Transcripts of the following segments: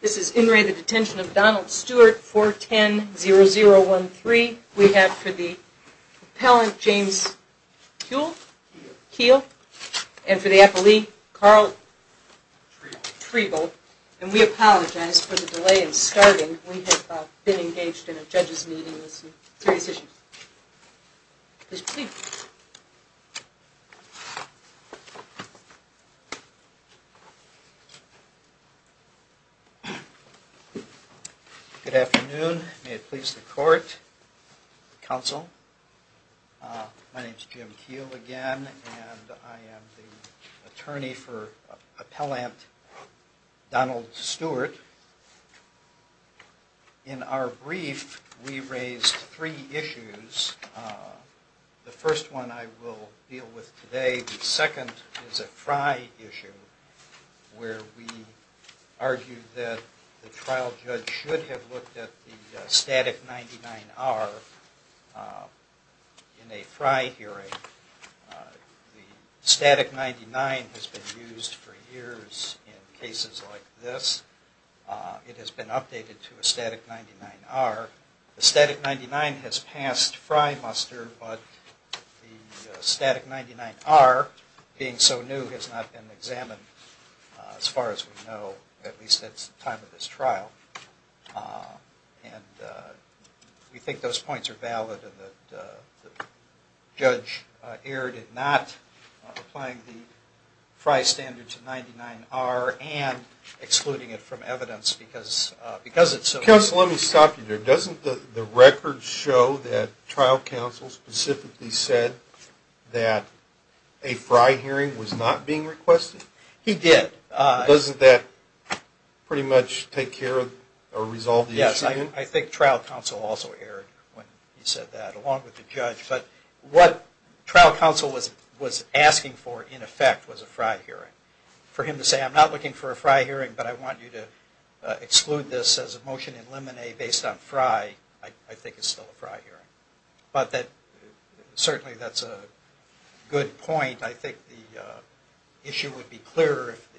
This is in re the detention of Donald Stewart, 4-10-0-0-1-3. We have for the appellant, James Kuehl. Kuehl. And for the appellee, Carl Trevel. And we apologize for the delay in starting. We have been engaged in a judge's meeting with some serious issues. Please proceed. Good afternoon. May it please the court, counsel. My name is Jim Kuehl again, and I am the attorney for appellant Donald Stewart. In our brief, we raised three issues. The first one I will deal with today. The second is a Frye issue, where we argue that the trial judge should have looked at the static 99-R in a Frye hearing. The static 99 has been used for years in cases like this. It has been updated to a static 99-R. The static 99 has passed Frye-Muster, but the static 99-R, being so new, has not been examined, as far as we know, at least at the time of this trial. And we think those points are valid. The judge erred in not applying the Frye standard to 99-R and excluding it from evidence because it's so new. Counsel, let me stop you there. Doesn't the record show that trial counsel specifically said that a Frye hearing was not being requested? He did. Doesn't that pretty much take care of or resolve the issue? Yes. I think trial counsel also erred when he said that, along with the judge. But what trial counsel was asking for, in effect, was a Frye hearing. For him to say, I'm not looking for a Frye hearing, but I want you to exclude this as a motion in limine based on Frye, I think is still a Frye hearing. But certainly that's a good point. I think the issue would be clearer if the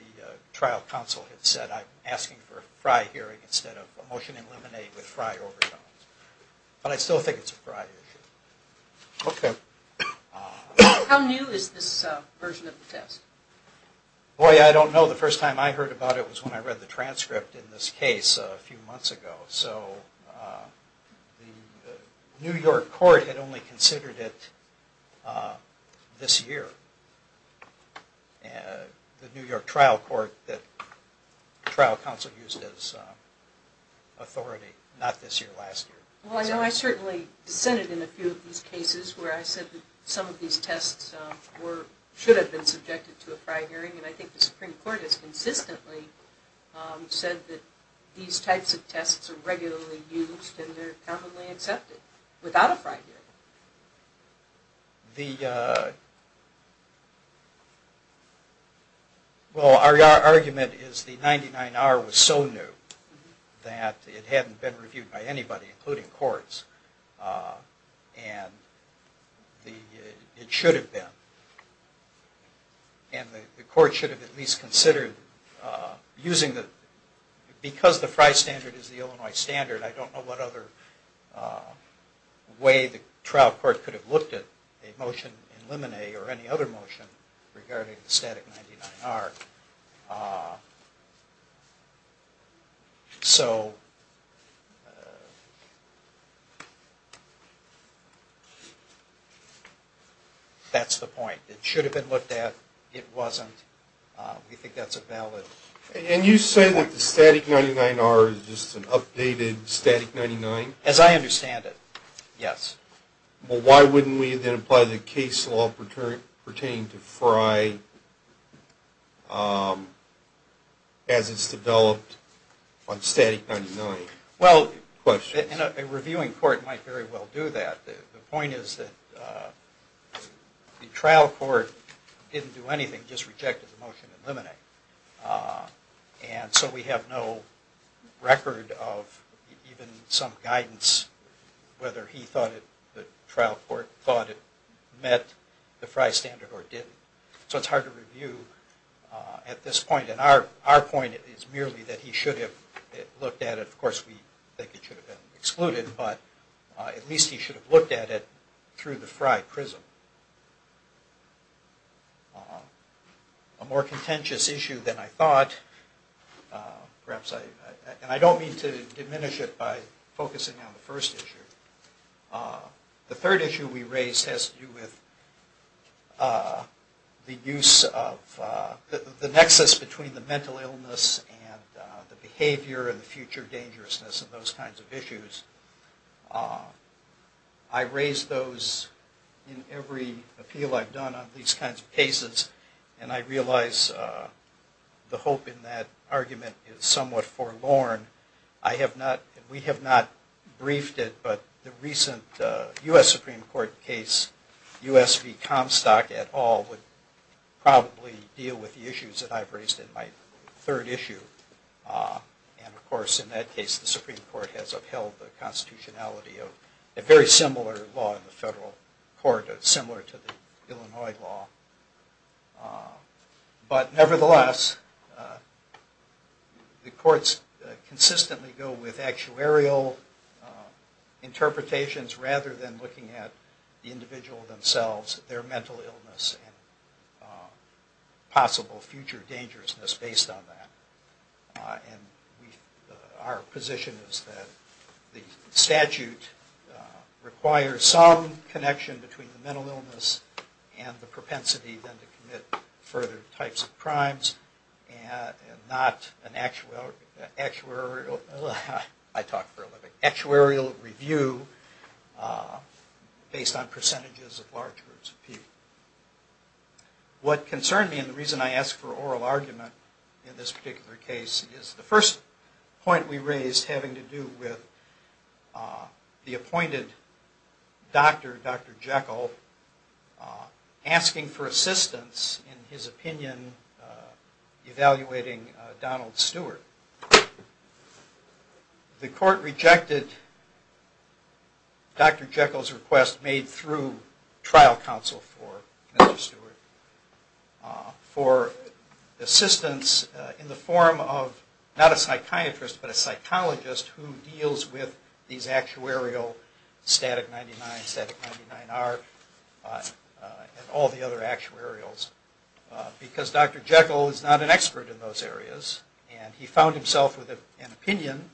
trial counsel had said, I'm asking for a Frye hearing instead of a motion in limine with Frye overtones. But I still think it's a Frye issue. Okay. How new is this version of the test? Boy, I don't know. The first time I heard about it was when I read the transcript in this case a few months ago. So the New York court had only considered it this year. The New York trial court that trial counsel used as authority, not this year, last year. Well, I know I certainly dissented in a few of these cases where I said that some of these tests should have been subjected to a Frye hearing. And I think the Supreme Court has consistently said that these types of tests are regularly used and they're commonly accepted without a Frye hearing. Well, our argument is the 99R was so new that it hadn't been reviewed by anybody, including courts. And it should have been. And the court should have at least considered using the, because the Frye standard is the Illinois standard, I don't know what other way the trial court could have looked at a motion in limine or any other motion regarding the static 99R. So that's the point. It should have been looked at. It wasn't. We think that's a valid point. And you say that the static 99R is just an updated static 99? As I understand it, yes. Well, why wouldn't we then apply the case law pertaining to Frye as it's developed on static 99? Well, a reviewing court might very well do that. The point is that the trial court didn't do anything, just rejected the motion in limine. And so we have no record of even some guidance whether he thought it, the trial court thought it met the Frye standard or didn't. So it's hard to review at this point. And our point is merely that he should have looked at it. Of course, we think it should have been excluded, but at least he should have looked at it through the Frye prism. A more contentious issue than I thought. And I don't mean to diminish it by focusing on the first issue. The third issue we raised has to do with the nexus between the mental illness and the behavior and the future dangerousness and those kinds of issues. I raise those in every appeal I've done on these kinds of cases. And I realize the hope in that argument is somewhat forlorn. We have not briefed it, but the recent U.S. Supreme Court case, U.S. v. Comstock et al. would probably deal with the issues that I've raised in my third issue. And of course, in that case, the Supreme Court has upheld the constitutionality of a very similar law in the federal court, similar to the Illinois law. But nevertheless, the courts consistently go with actuarial interpretations rather than looking at the individual themselves, their mental illness and possible future dangerousness based on that. And our position is that the statute requires some connection between the mental illness and the propensity then to commit further types of crimes and not an actuarial review based on percentages of large groups of people. What concerned me and the reason I asked for oral argument in this particular case is the first point we raised having to do with the appointed doctor, Dr. Jekyll, asking for assistance in his opinion evaluating Donald Stewart. The court rejected Dr. Jekyll's request made through trial counsel for Mr. Stewart for assistance in the form of not a psychiatrist, but a psychologist who deals with these actuarial static 99, static 99R, and all the other actuarials. Because Dr. Jekyll is not an expert in those areas and he found himself with an opinion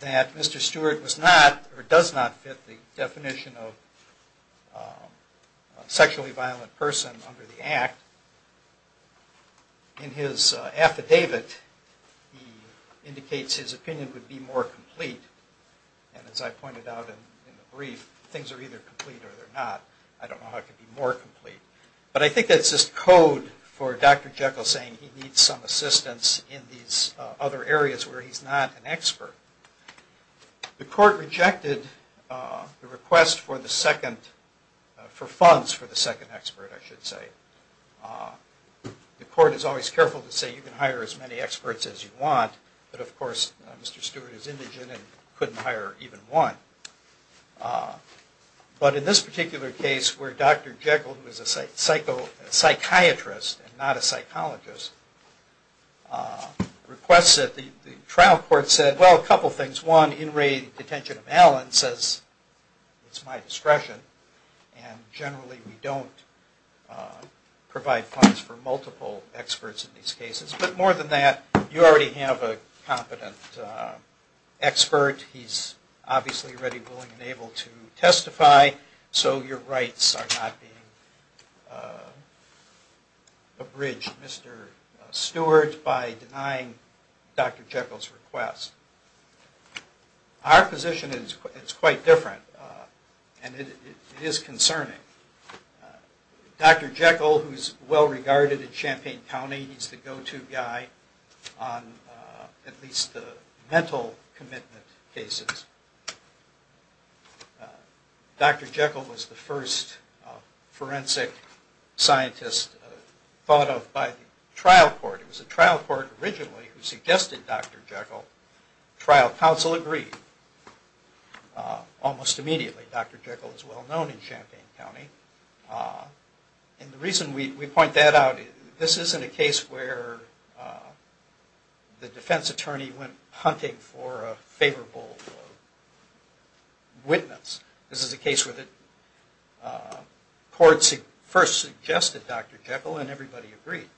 that Mr. Stewart was not or does not fit the definition of a sexually violent person under the Act. In his affidavit he indicates his opinion would be more complete. And as I pointed out in the brief, things are either complete or they're not. I don't know how it could be more complete. But I think that's just code for Dr. Jekyll saying he needs some assistance in these other areas where he's not an expert. The court rejected the request for funds for the second expert, I should say. The court is always careful to say you can hire as many experts as you want, but of course Mr. Stewart is indigent and couldn't hire even one. But in this particular case where Dr. Jekyll, who is a psychiatrist and not a psychologist, requests it, the trial court said, well, a couple things. One, in raid detention of Allen says it's my discretion and generally we don't provide funds for multiple experts in these cases. But more than that, you already have a competent expert. He's obviously ready, willing, and able to testify. So your rights are not being abridged, Mr. Stewart, by denying Dr. Jekyll's request. Our position is quite different and it is concerning. Dr. Jekyll, who is well regarded in Champaign County, he's the go-to guy on at least the mental commitment cases. Dr. Jekyll was the first forensic scientist thought of by the trial court. It was the trial court originally who suggested Dr. Jekyll. Trial counsel agreed almost immediately. Dr. Jekyll is well known in Champaign County. And the reason we point that out, this isn't a case where the defense attorney went hunting for a favorable witness. This is a case where the court first suggested Dr. Jekyll and everybody agreed.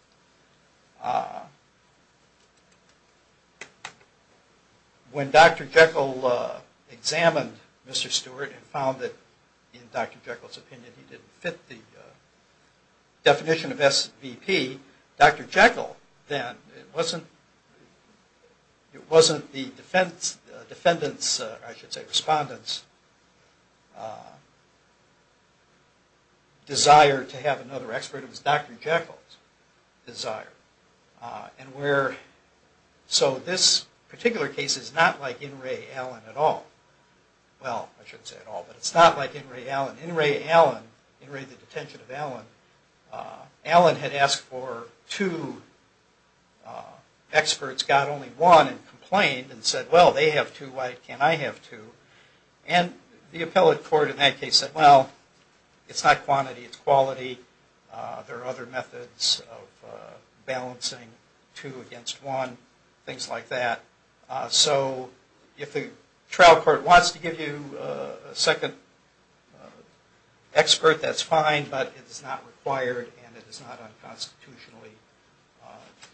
When Dr. Jekyll examined Mr. Stewart and found that, in Dr. Jekyll's opinion, he didn't fit the definition of SVP, Dr. Jekyll then, it wasn't the defendant's, I should say, respondent's, desire to have another expert. It was Dr. Jekyll's desire. So this particular case is not like In re Allen at all. Well, I shouldn't say at all, but it's not like In re Allen. In re the detention of Allen. Allen had asked for two experts, got only one, and complained and said, well, they have two, why can't I have two? And the appellate court in that case said, well, it's not quantity, it's quality. There are other methods of balancing two against one, things like that. So if the trial court wants to give you a second expert, that's fine, but it is not required and it is not unconstitutionally,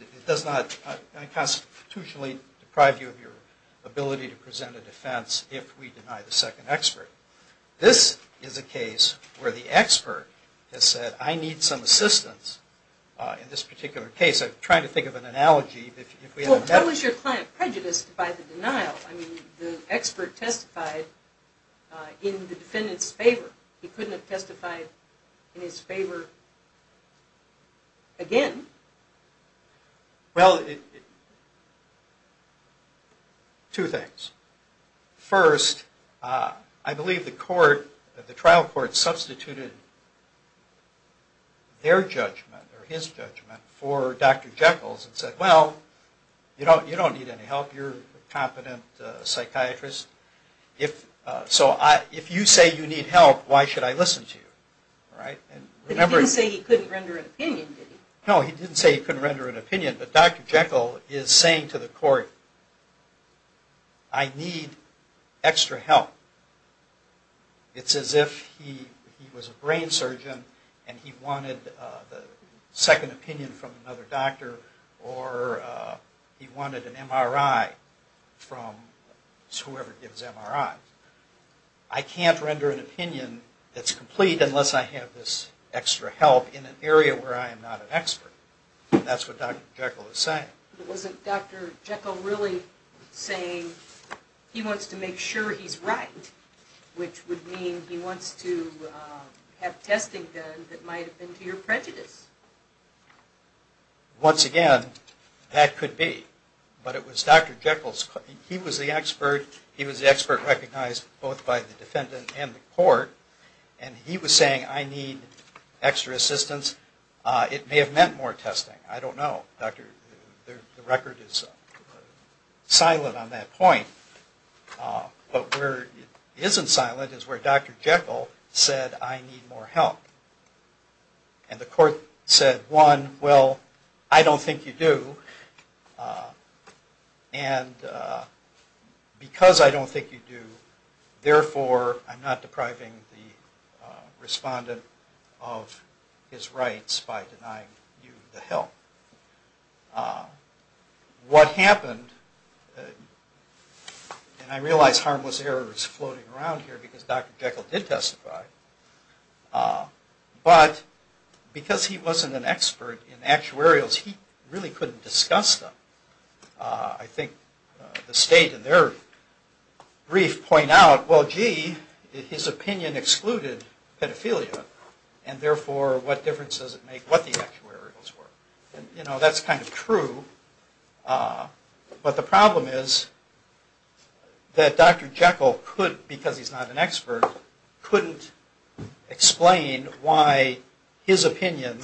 it does not unconstitutionally deprive you of your ability to present a defense if we deny the second expert. This is a case where the expert has said, I need some assistance in this particular case. I'm trying to think of an analogy. What was your client prejudiced by the denial? I mean, the expert testified in the defendant's favor. He couldn't have testified in his favor again. Well, two things. First, I believe the trial court substituted their judgment or his judgment for Dr. Jekyll's and said, well, you don't need any help. You're a competent psychiatrist. So if you say you need help, why should I listen to you? But he didn't say he couldn't render an opinion, did he? No, he didn't say he couldn't render an opinion, but Dr. Jekyll is saying to the court, I need extra help. It's as if he was a brain surgeon and he wanted a second opinion from another doctor or he wanted an MRI from whoever gives MRIs. I can't render an opinion that's complete unless I have this extra help in an area where I am not an expert. That's what Dr. Jekyll is saying. Wasn't Dr. Jekyll really saying he wants to make sure he's right, which would mean he wants to have testing done that might have been to your prejudice? Once again, that could be. But it was Dr. Jekyll. He was the expert. He was the expert recognized both by the defendant and the court. And he was saying, I need extra assistance. It may have meant more testing. I don't know. The record is silent on that point. But where it isn't silent is where Dr. Jekyll said, I need more help. And the court said, one, well, I don't think you do. And because I don't think you do, therefore, I'm not depriving the respondent of his rights by denying you the help. What happened, and I realize harmless error is floating around here because Dr. Jekyll did testify. But because he wasn't an expert in actuarials, he really couldn't discuss them. I think the state in their brief point out, well, gee, his opinion excluded pedophilia. And therefore, what difference does it make what the actuarials were? And, you know, that's kind of true. But the problem is that Dr. Jekyll could, because he's not an expert, couldn't explain why his opinion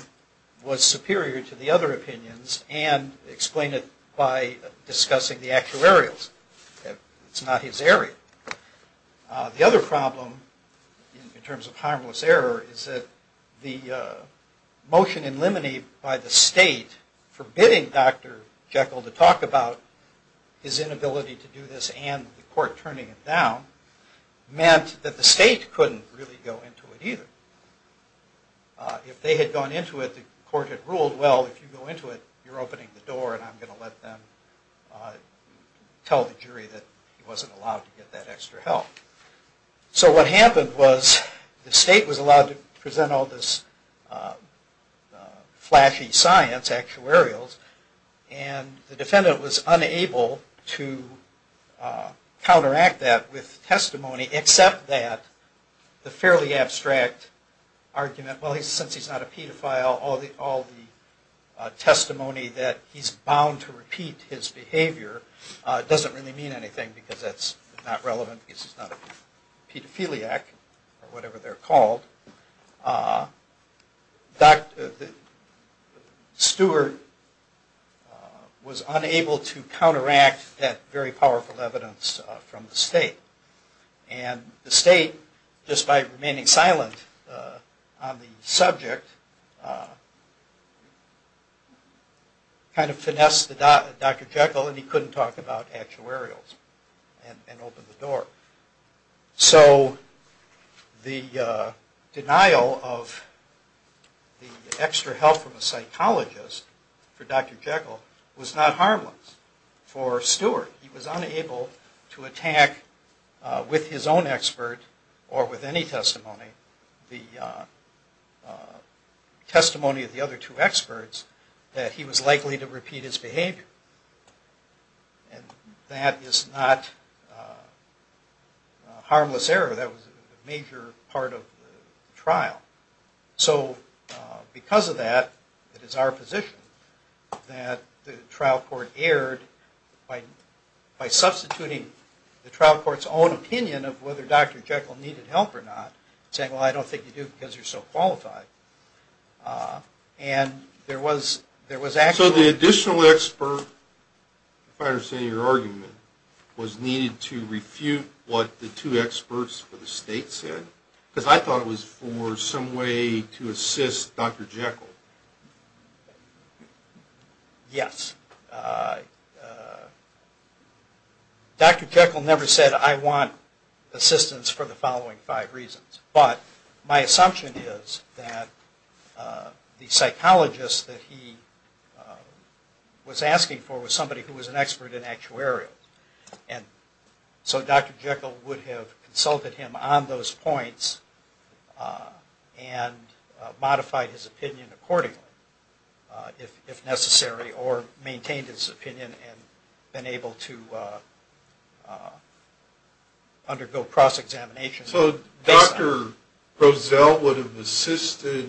was superior to the other opinions and explain it by discussing the actuarials. It's not his area. The other problem in terms of harmless error is that the motion in limine by the state forbidding Dr. Jekyll to talk about his inability to do this and the court turning it down meant that the state couldn't really go into it either. If they had gone into it, the court had ruled, well, if you go into it, you're opening the door and I'm going to let them tell the jury that he wasn't allowed to get that extra help. So what happened was the state was allowed to present all this flashy science, actuarials, and the defendant was unable to counteract that with testimony except that the fairly abstract argument, well, since he's not a pedophile, all the testimony that he's bound to repeat his behavior doesn't really mean anything because that's not relevant because he's not a pedophiliac or whatever they're called. Stewart was unable to counteract that very powerful evidence from the state. And the state, just by remaining silent on the subject, kind of finessed Dr. Jekyll and he couldn't talk about actuarials and open the door. So the denial of the extra help from a psychologist for Dr. Jekyll was not harmless for Stewart. He was unable to attack with his own expert or with any testimony the testimony of the other two experts that he was likely to repeat his behavior. And that is not a harmless error. That was a major part of the trial. So because of that, it is our position that the trial court erred by substituting the trial court's own opinion of whether Dr. Jekyll needed help or not, saying, well, I don't think you do because you're so qualified. And there was actually... So the additional expert, if I understand your argument, was needed to refute what the two experts for the state said? Because I thought it was for some way to assist Dr. Jekyll. Yes. Dr. Jekyll never said, I want assistance for the following five reasons. But my assumption is that the psychologist that he was asking for was somebody who was an expert in actuarials. And so Dr. Jekyll would have consulted him on those points and modified his opinion accordingly, if necessary, or maintained his opinion and been able to undergo cross-examination. So Dr. Prozell would have assisted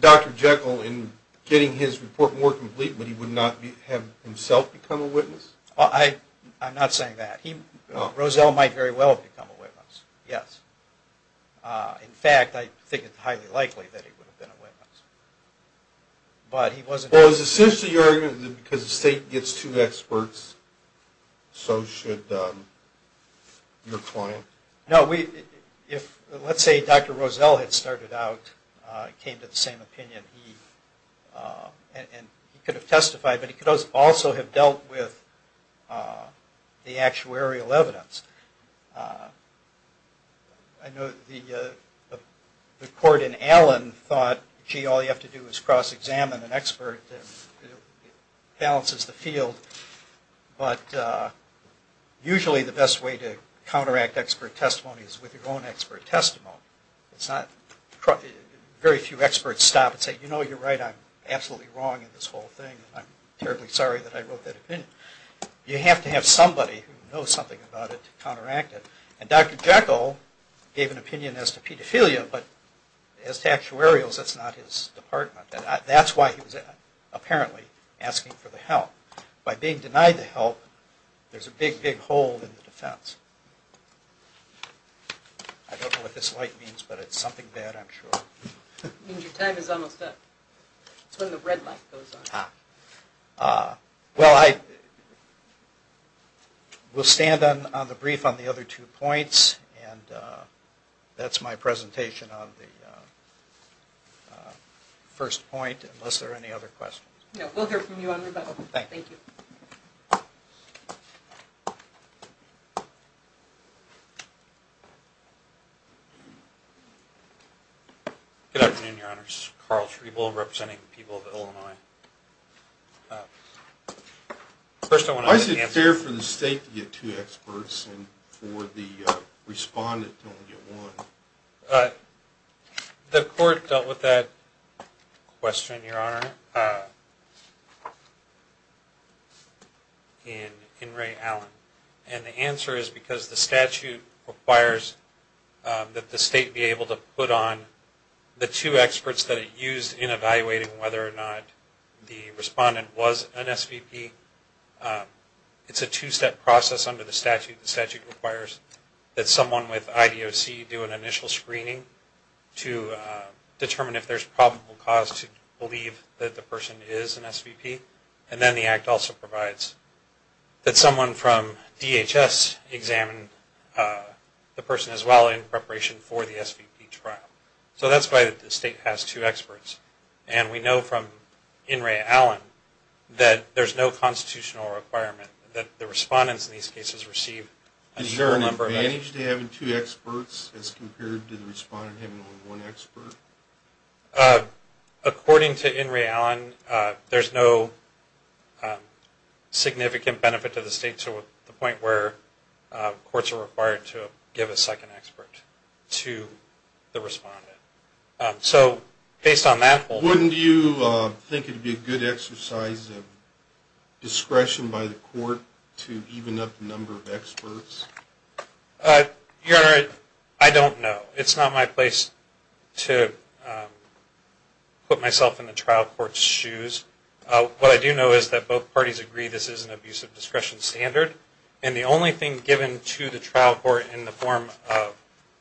Dr. Jekyll in getting his report more complete, but he would not have himself become a witness? I'm not saying that. Prozell might very well have become a witness, yes. In fact, I think it's highly likely that he would have been a witness. But it was essentially your argument that because the state gets two experts, so should your client? No, let's say Dr. Prozell had started out, came to the same opinion, and he could have testified, but he could also have dealt with the actuarial evidence. I know the court in Allen thought, gee, all you have to do is cross-examine an expert, it balances the field. But usually the best way to counteract expert testimony is with your own expert testimony. Very few experts stop and say, you know, you're right, I'm absolutely wrong in this whole thing, and I'm terribly sorry that I wrote that opinion. You have to have somebody who knows something about it to counteract it. And Dr. Jekyll gave an opinion as to pedophilia, but as to actuarials, that's not his department. That's why he was apparently asking for the help. By being denied the help, there's a big, big hole in the defense. I don't know what this light means, but it's something bad, I'm sure. It means your time is almost up. It's when the red light goes on. Well, I will stand on the brief on the other two points, and that's my presentation on the first point, unless there are any other questions. No, we'll hear from you on rebuttal. Thank you. Good afternoon, Your Honors. Carl Schriebel representing the people of Illinois. First, I want to get an answer. Why is it fair for the state to get two experts and for the respondent to only get one? The court dealt with that question, Your Honor, in Ray Allen. And the answer is because the statute requires that the state be able to put on the two experts that it used in evaluating whether or not the respondent was an SVP. It's a two-step process under the statute. The statute requires that someone with IDOC do an initial screening to determine if there's probable cause to believe that the person is an SVP. And then the act also provides that someone from DHS examine the person as well in preparation for the SVP trial. So that's why the state has two experts. And we know from in Ray Allen that there's no constitutional requirement that the respondents in these cases receive an equal number of experts. Is there an advantage to having two experts as compared to the respondent having only one expert? According to in Ray Allen, there's no significant benefit to the state to the point where courts are required to give a second expert to the respondent. Wouldn't you think it would be a good exercise of discretion by the court to even up the number of experts? Your Honor, I don't know. It's not my place to put myself in the trial court's shoes. What I do know is that both parties agree this is an abuse of discretion standard. And the only thing given to the trial court in the form of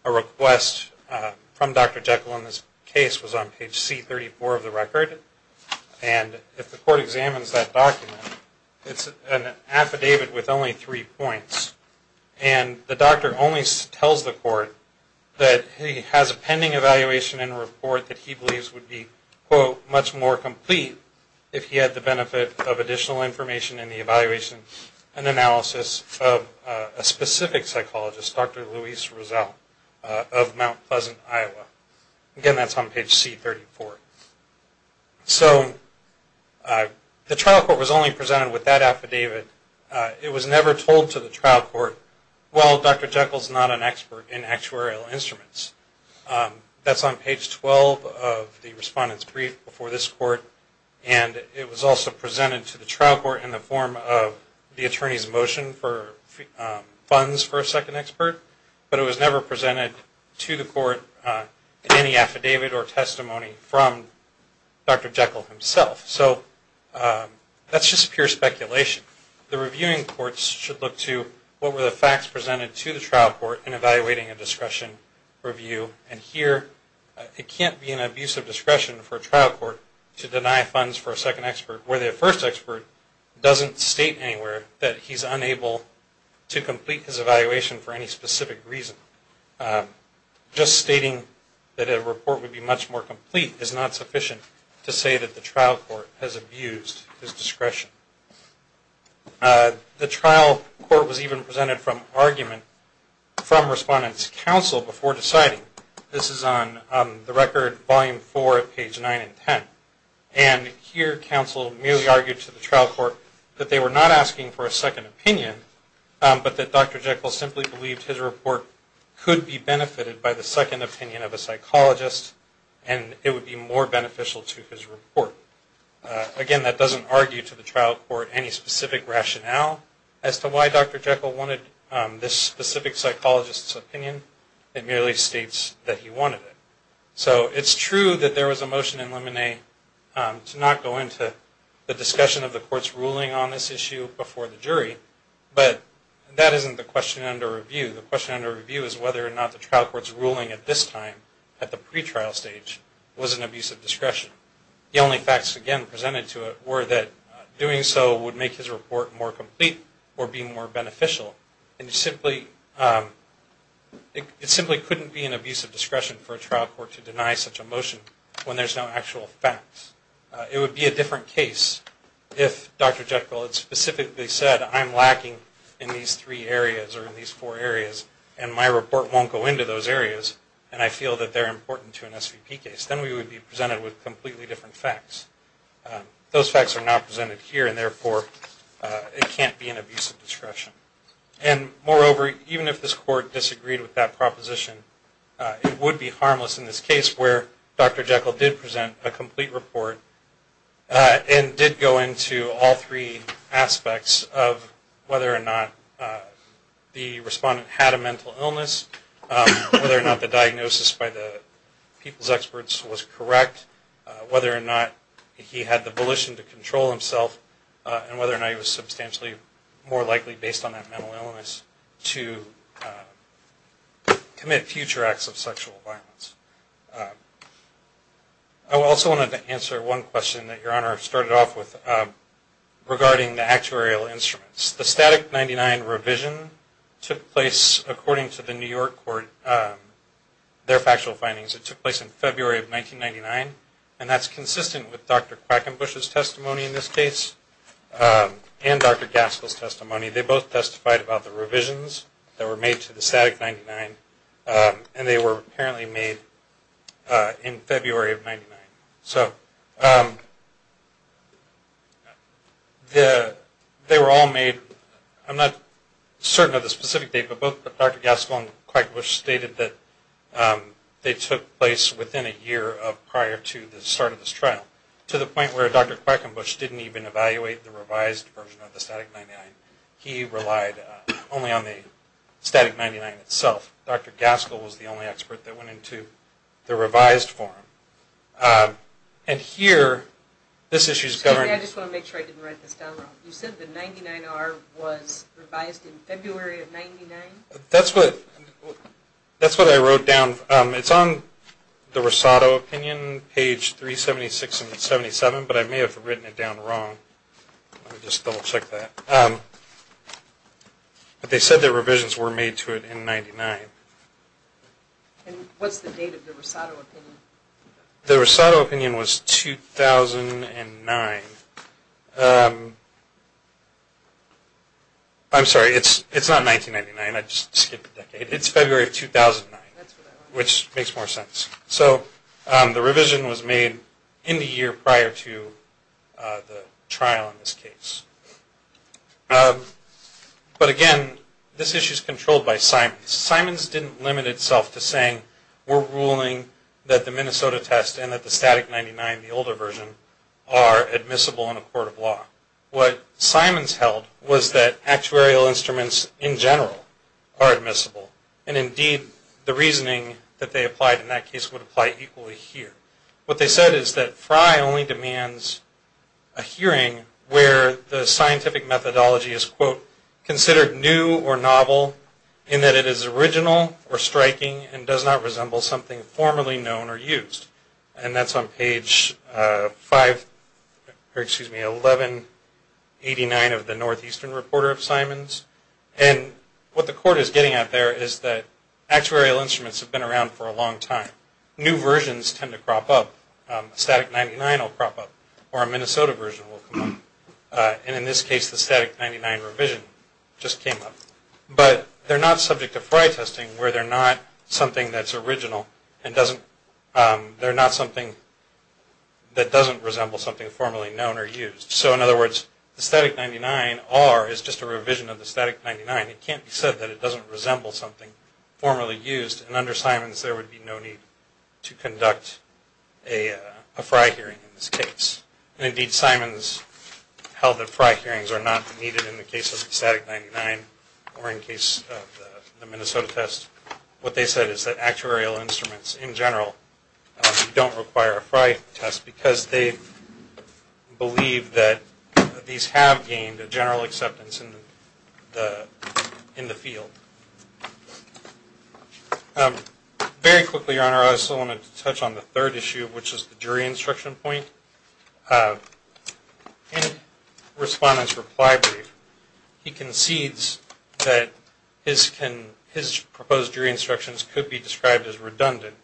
a request from Dr. Jekyll in this case was on page C34 of the record. And if the court examines that document, it's an affidavit with only three points. And the doctor only tells the court that he has a pending evaluation and report that he believes would be quote, much more complete if he had the benefit of additional information in the evaluation and analysis of a specific psychologist, Dr. Luis Rizal of Mount Pleasant, Iowa. Again, that's on page C34. So the trial court was only presented with that affidavit. It was never told to the trial court, well, Dr. Jekyll's not an expert in actuarial instruments. That's on page 12 of the respondent's brief before this court. And it was also presented to the trial court in the form of the attorney's motion for funds for a second expert. But it was never presented to the court in any affidavit or testimony from Dr. Jekyll himself. So that's just pure speculation. The reviewing courts should look to what were the facts presented to the trial court in evaluating a discretion review. And here, it can't be an abuse of discretion for a trial court to deny funds for a second expert where the first expert doesn't state anywhere that he's unable to complete his evaluation for any specific reason. Just stating that a report would be much more complete is not sufficient to say that the trial court has abused his discretion. The trial court was even presented from argument from respondent's counsel before deciding. This is on the record, volume 4, page 9 and 10. And here, counsel merely argued to the trial court that they were not asking for a second opinion, but that Dr. Jekyll simply believed his report could be benefited by the second opinion of a psychologist and it would be more beneficial to his report. Again, that doesn't argue to the trial court any specific rationale as to why Dr. Jekyll wanted this specific psychologist's opinion. It merely states that he wanted it. So it's true that there was a motion in Lemonet to not go into the discussion of the court's ruling on this issue before the jury, but that isn't the question under review. The question under review is whether or not the trial court's ruling at this time, at the pretrial stage, was an abuse of discretion. The only facts, again, presented to it were that doing so would make his report more complete or be more beneficial. And it simply couldn't be an abuse of discretion for a trial court to deny such a motion when there's no actual facts. It would be a different case if Dr. Jekyll had specifically said, I'm lacking in these three areas or in these four areas and my report won't go into those areas and I feel that they're important to an SVP case. Then we would be presented with completely different facts. Those facts are not presented here and therefore it can't be an abuse of discretion. And moreover, even if this court disagreed with that proposition, it would be harmless in this case where Dr. Jekyll did present a complete report and did go into all three aspects of whether or not the respondent had a mental illness, whether or not the diagnosis by the people's experts was correct, whether or not he had the volition to control himself, and whether or not he was substantially more likely, based on that mental illness, to commit future acts of sexual violence. I also wanted to answer one question that Your Honor started off with regarding the actuarial instruments. The Static 99 revision took place according to the New York court, their factual findings. It took place in February of 1999 and that's consistent with Dr. Quackenbush's testimony in this case and Dr. Gaskell's testimony. They both testified about the revisions that were made to the Static 99 So they were all made, I'm not certain of the specific date, but Dr. Gaskell and Dr. Quackenbush stated that they took place within a year prior to the start of this trial to the point where Dr. Quackenbush didn't even evaluate the revised version of the Static 99. He relied only on the Static 99 itself. Dr. Gaskell was the only expert that went into the revised form. And here, this issue is governed... I just want to make sure I didn't write this down wrong. You said the 99R was revised in February of 1999? That's what I wrote down. It's on the Rosado opinion, page 376 and 77, but I may have written it down wrong. Let me just double check that. But they said the revisions were made to it in 99. And what's the date of the Rosado opinion? The Rosado opinion was 2009. I'm sorry, it's not 1999, I just skipped a decade. It's February of 2009, which makes more sense. So the revision was made in the year prior to the trial in this case. But again, this issue is controlled by Simons. Simons didn't limit itself to saying, we're ruling that the Minnesota test and that the Static 99, the older version, are admissible in a court of law. What Simons held was that actuarial instruments in general are admissible. And indeed, the reasoning that they applied in that case would apply equally here. What they said is that Fry only demands a hearing where the scientific methodology is, quote, considered new or novel in that it is original or striking and does not resemble something formerly known or used. And that's on page 1189 of the Northeastern Reporter of Simons. And what the court is getting at there is that actuarial instruments have been around for a long time. New versions tend to crop up. Static 99 will crop up or a Minnesota version will come up. And in this case, the Static 99 revision just came up. But they're not subject to Fry testing where they're not something that's original and they're not something that doesn't resemble something formerly known or used. So in other words, the Static 99R is just a revision of the Static 99. It can't be said that it doesn't resemble something formerly used. And under Simons, there would be no need to conduct a Fry hearing in this case. And indeed, Simons held that Fry hearings are not needed in the case of the Static 99 or in the case of the Minnesota test. What they said is that actuarial instruments in general don't require a Fry test because they believe that these have gained a general acceptance in the field. Very quickly, Your Honor, I also want to touch on the third issue, which is the jury instruction point. In Respondent's reply brief, he concedes that his proposed jury instructions could be described as redundant.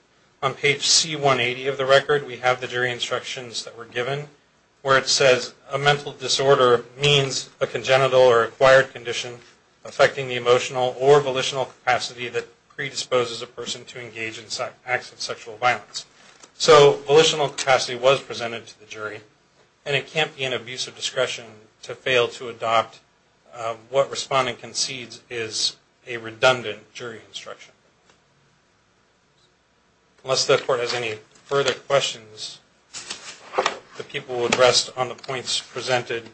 On page C180 of the record, we have the jury instructions that were given where it says, a mental disorder means a congenital or acquired condition affecting the emotional or volitional capacity that predisposes a person to engage in acts of sexual violence. So volitional capacity was presented to the jury. And it can't be an abuse of discretion to fail to adopt what Respondent concedes is a redundant jury instruction. Unless the Court has any further questions, the people will rest on the points presented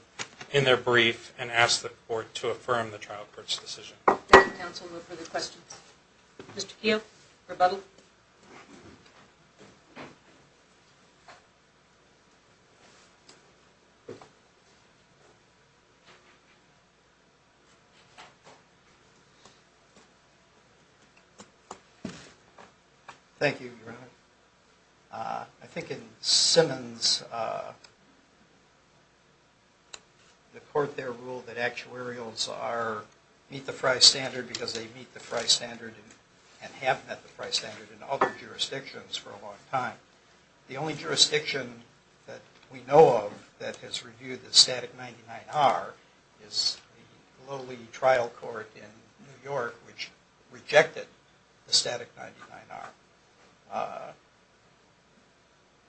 in their brief and ask the Court to affirm the trial court's decision. Thank you, counsel. No further questions. Mr. Keough, rebuttal. Thank you, Your Honor. I think in Simmons, the Court there ruled that actuarials meet the Frye Standard because they meet the Frye Standard and have met the Frye Standard in other jurisdictions for a long time. The only jurisdiction that we know of that has reviewed the static 99R is the lowly trial court in New York, which rejected the static 99R.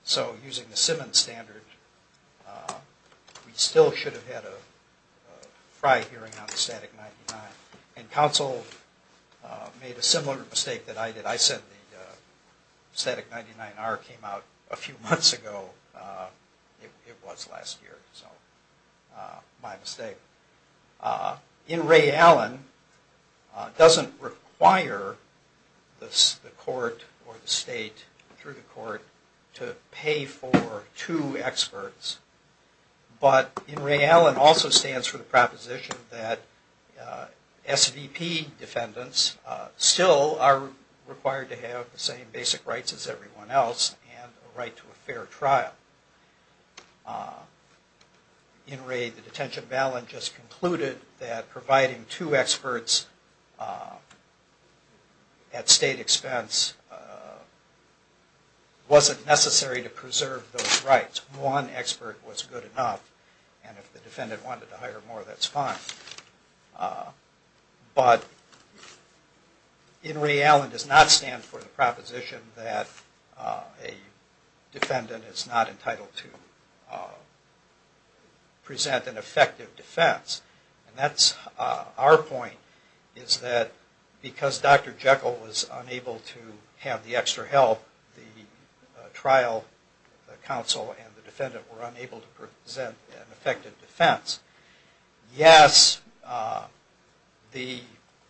So using the Simmons standard, we still should have had a Frye hearing on the static 99. And counsel made a similar mistake that I did. I said the static 99R came out a few months ago. It was last year, so my mistake. In re Allen doesn't require the Court or the State through the Court to pay for two experts. But in re Allen also stands for the proposition that SDP defendants still are required to have the same basic rights as everyone else and a right to a fair trial. In re the detention of Allen just concluded that providing two experts at State expense wasn't necessary to preserve those rights. One expert was good enough, and if the defendant wanted to hire more, that's fine. But in re Allen does not stand for the proposition that a defendant is not entitled to present an effective defense. And that's our point, is that because Dr. Jekyll was unable to have the extra help, the trial counsel and the defendant were unable to present an effective defense. Yes, the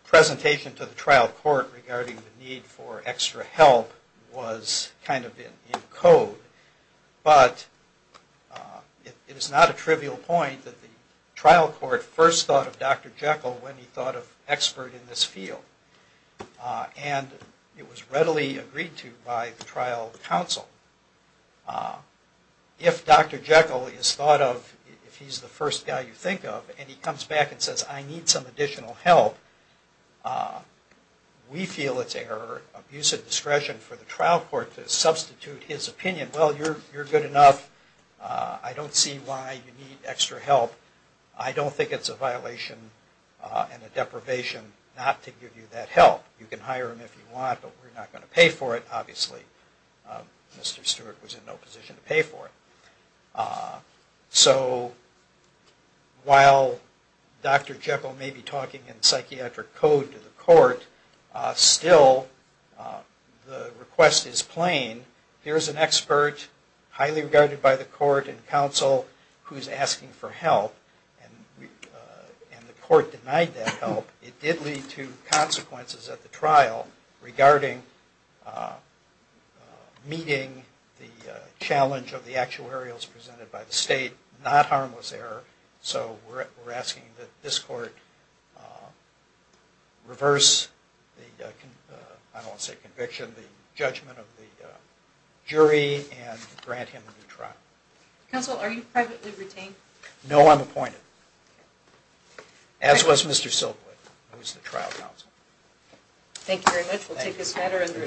presentation to the trial court regarding the need for extra help was kind of in code. But it is not a trivial point that the trial court first thought of Dr. Jekyll when he thought of expert in this field. And it was readily agreed to by the trial counsel. If Dr. Jekyll is thought of, if he's the first guy you think of, and he comes back and says, I need some additional help, we feel it's an abuse of discretion for the trial court to substitute his opinion. Well, you're good enough. I don't see why you need extra help. I don't think it's a violation and a deprivation not to give you that help. You can hire him if you want, but we're not going to pay for it, obviously. Mr. Stewart was in no position to pay for it. So while Dr. Jekyll may be talking in psychiatric code to the court, still the request is plain. Here's an expert, highly regarded by the court and counsel, who's asking for help. And the court denied that help. It did lead to consequences at the trial regarding meeting the challenge of the actuarials presented by the state, not harmless error, so we're asking that this court reverse the, I don't want to say conviction, the judgment of the jury and grant him a new trial. Counsel, are you privately retained? No, I'm appointed. As was Mr. Silkwood, who was the trial counsel. Thank you very much. We'll take this matter under a...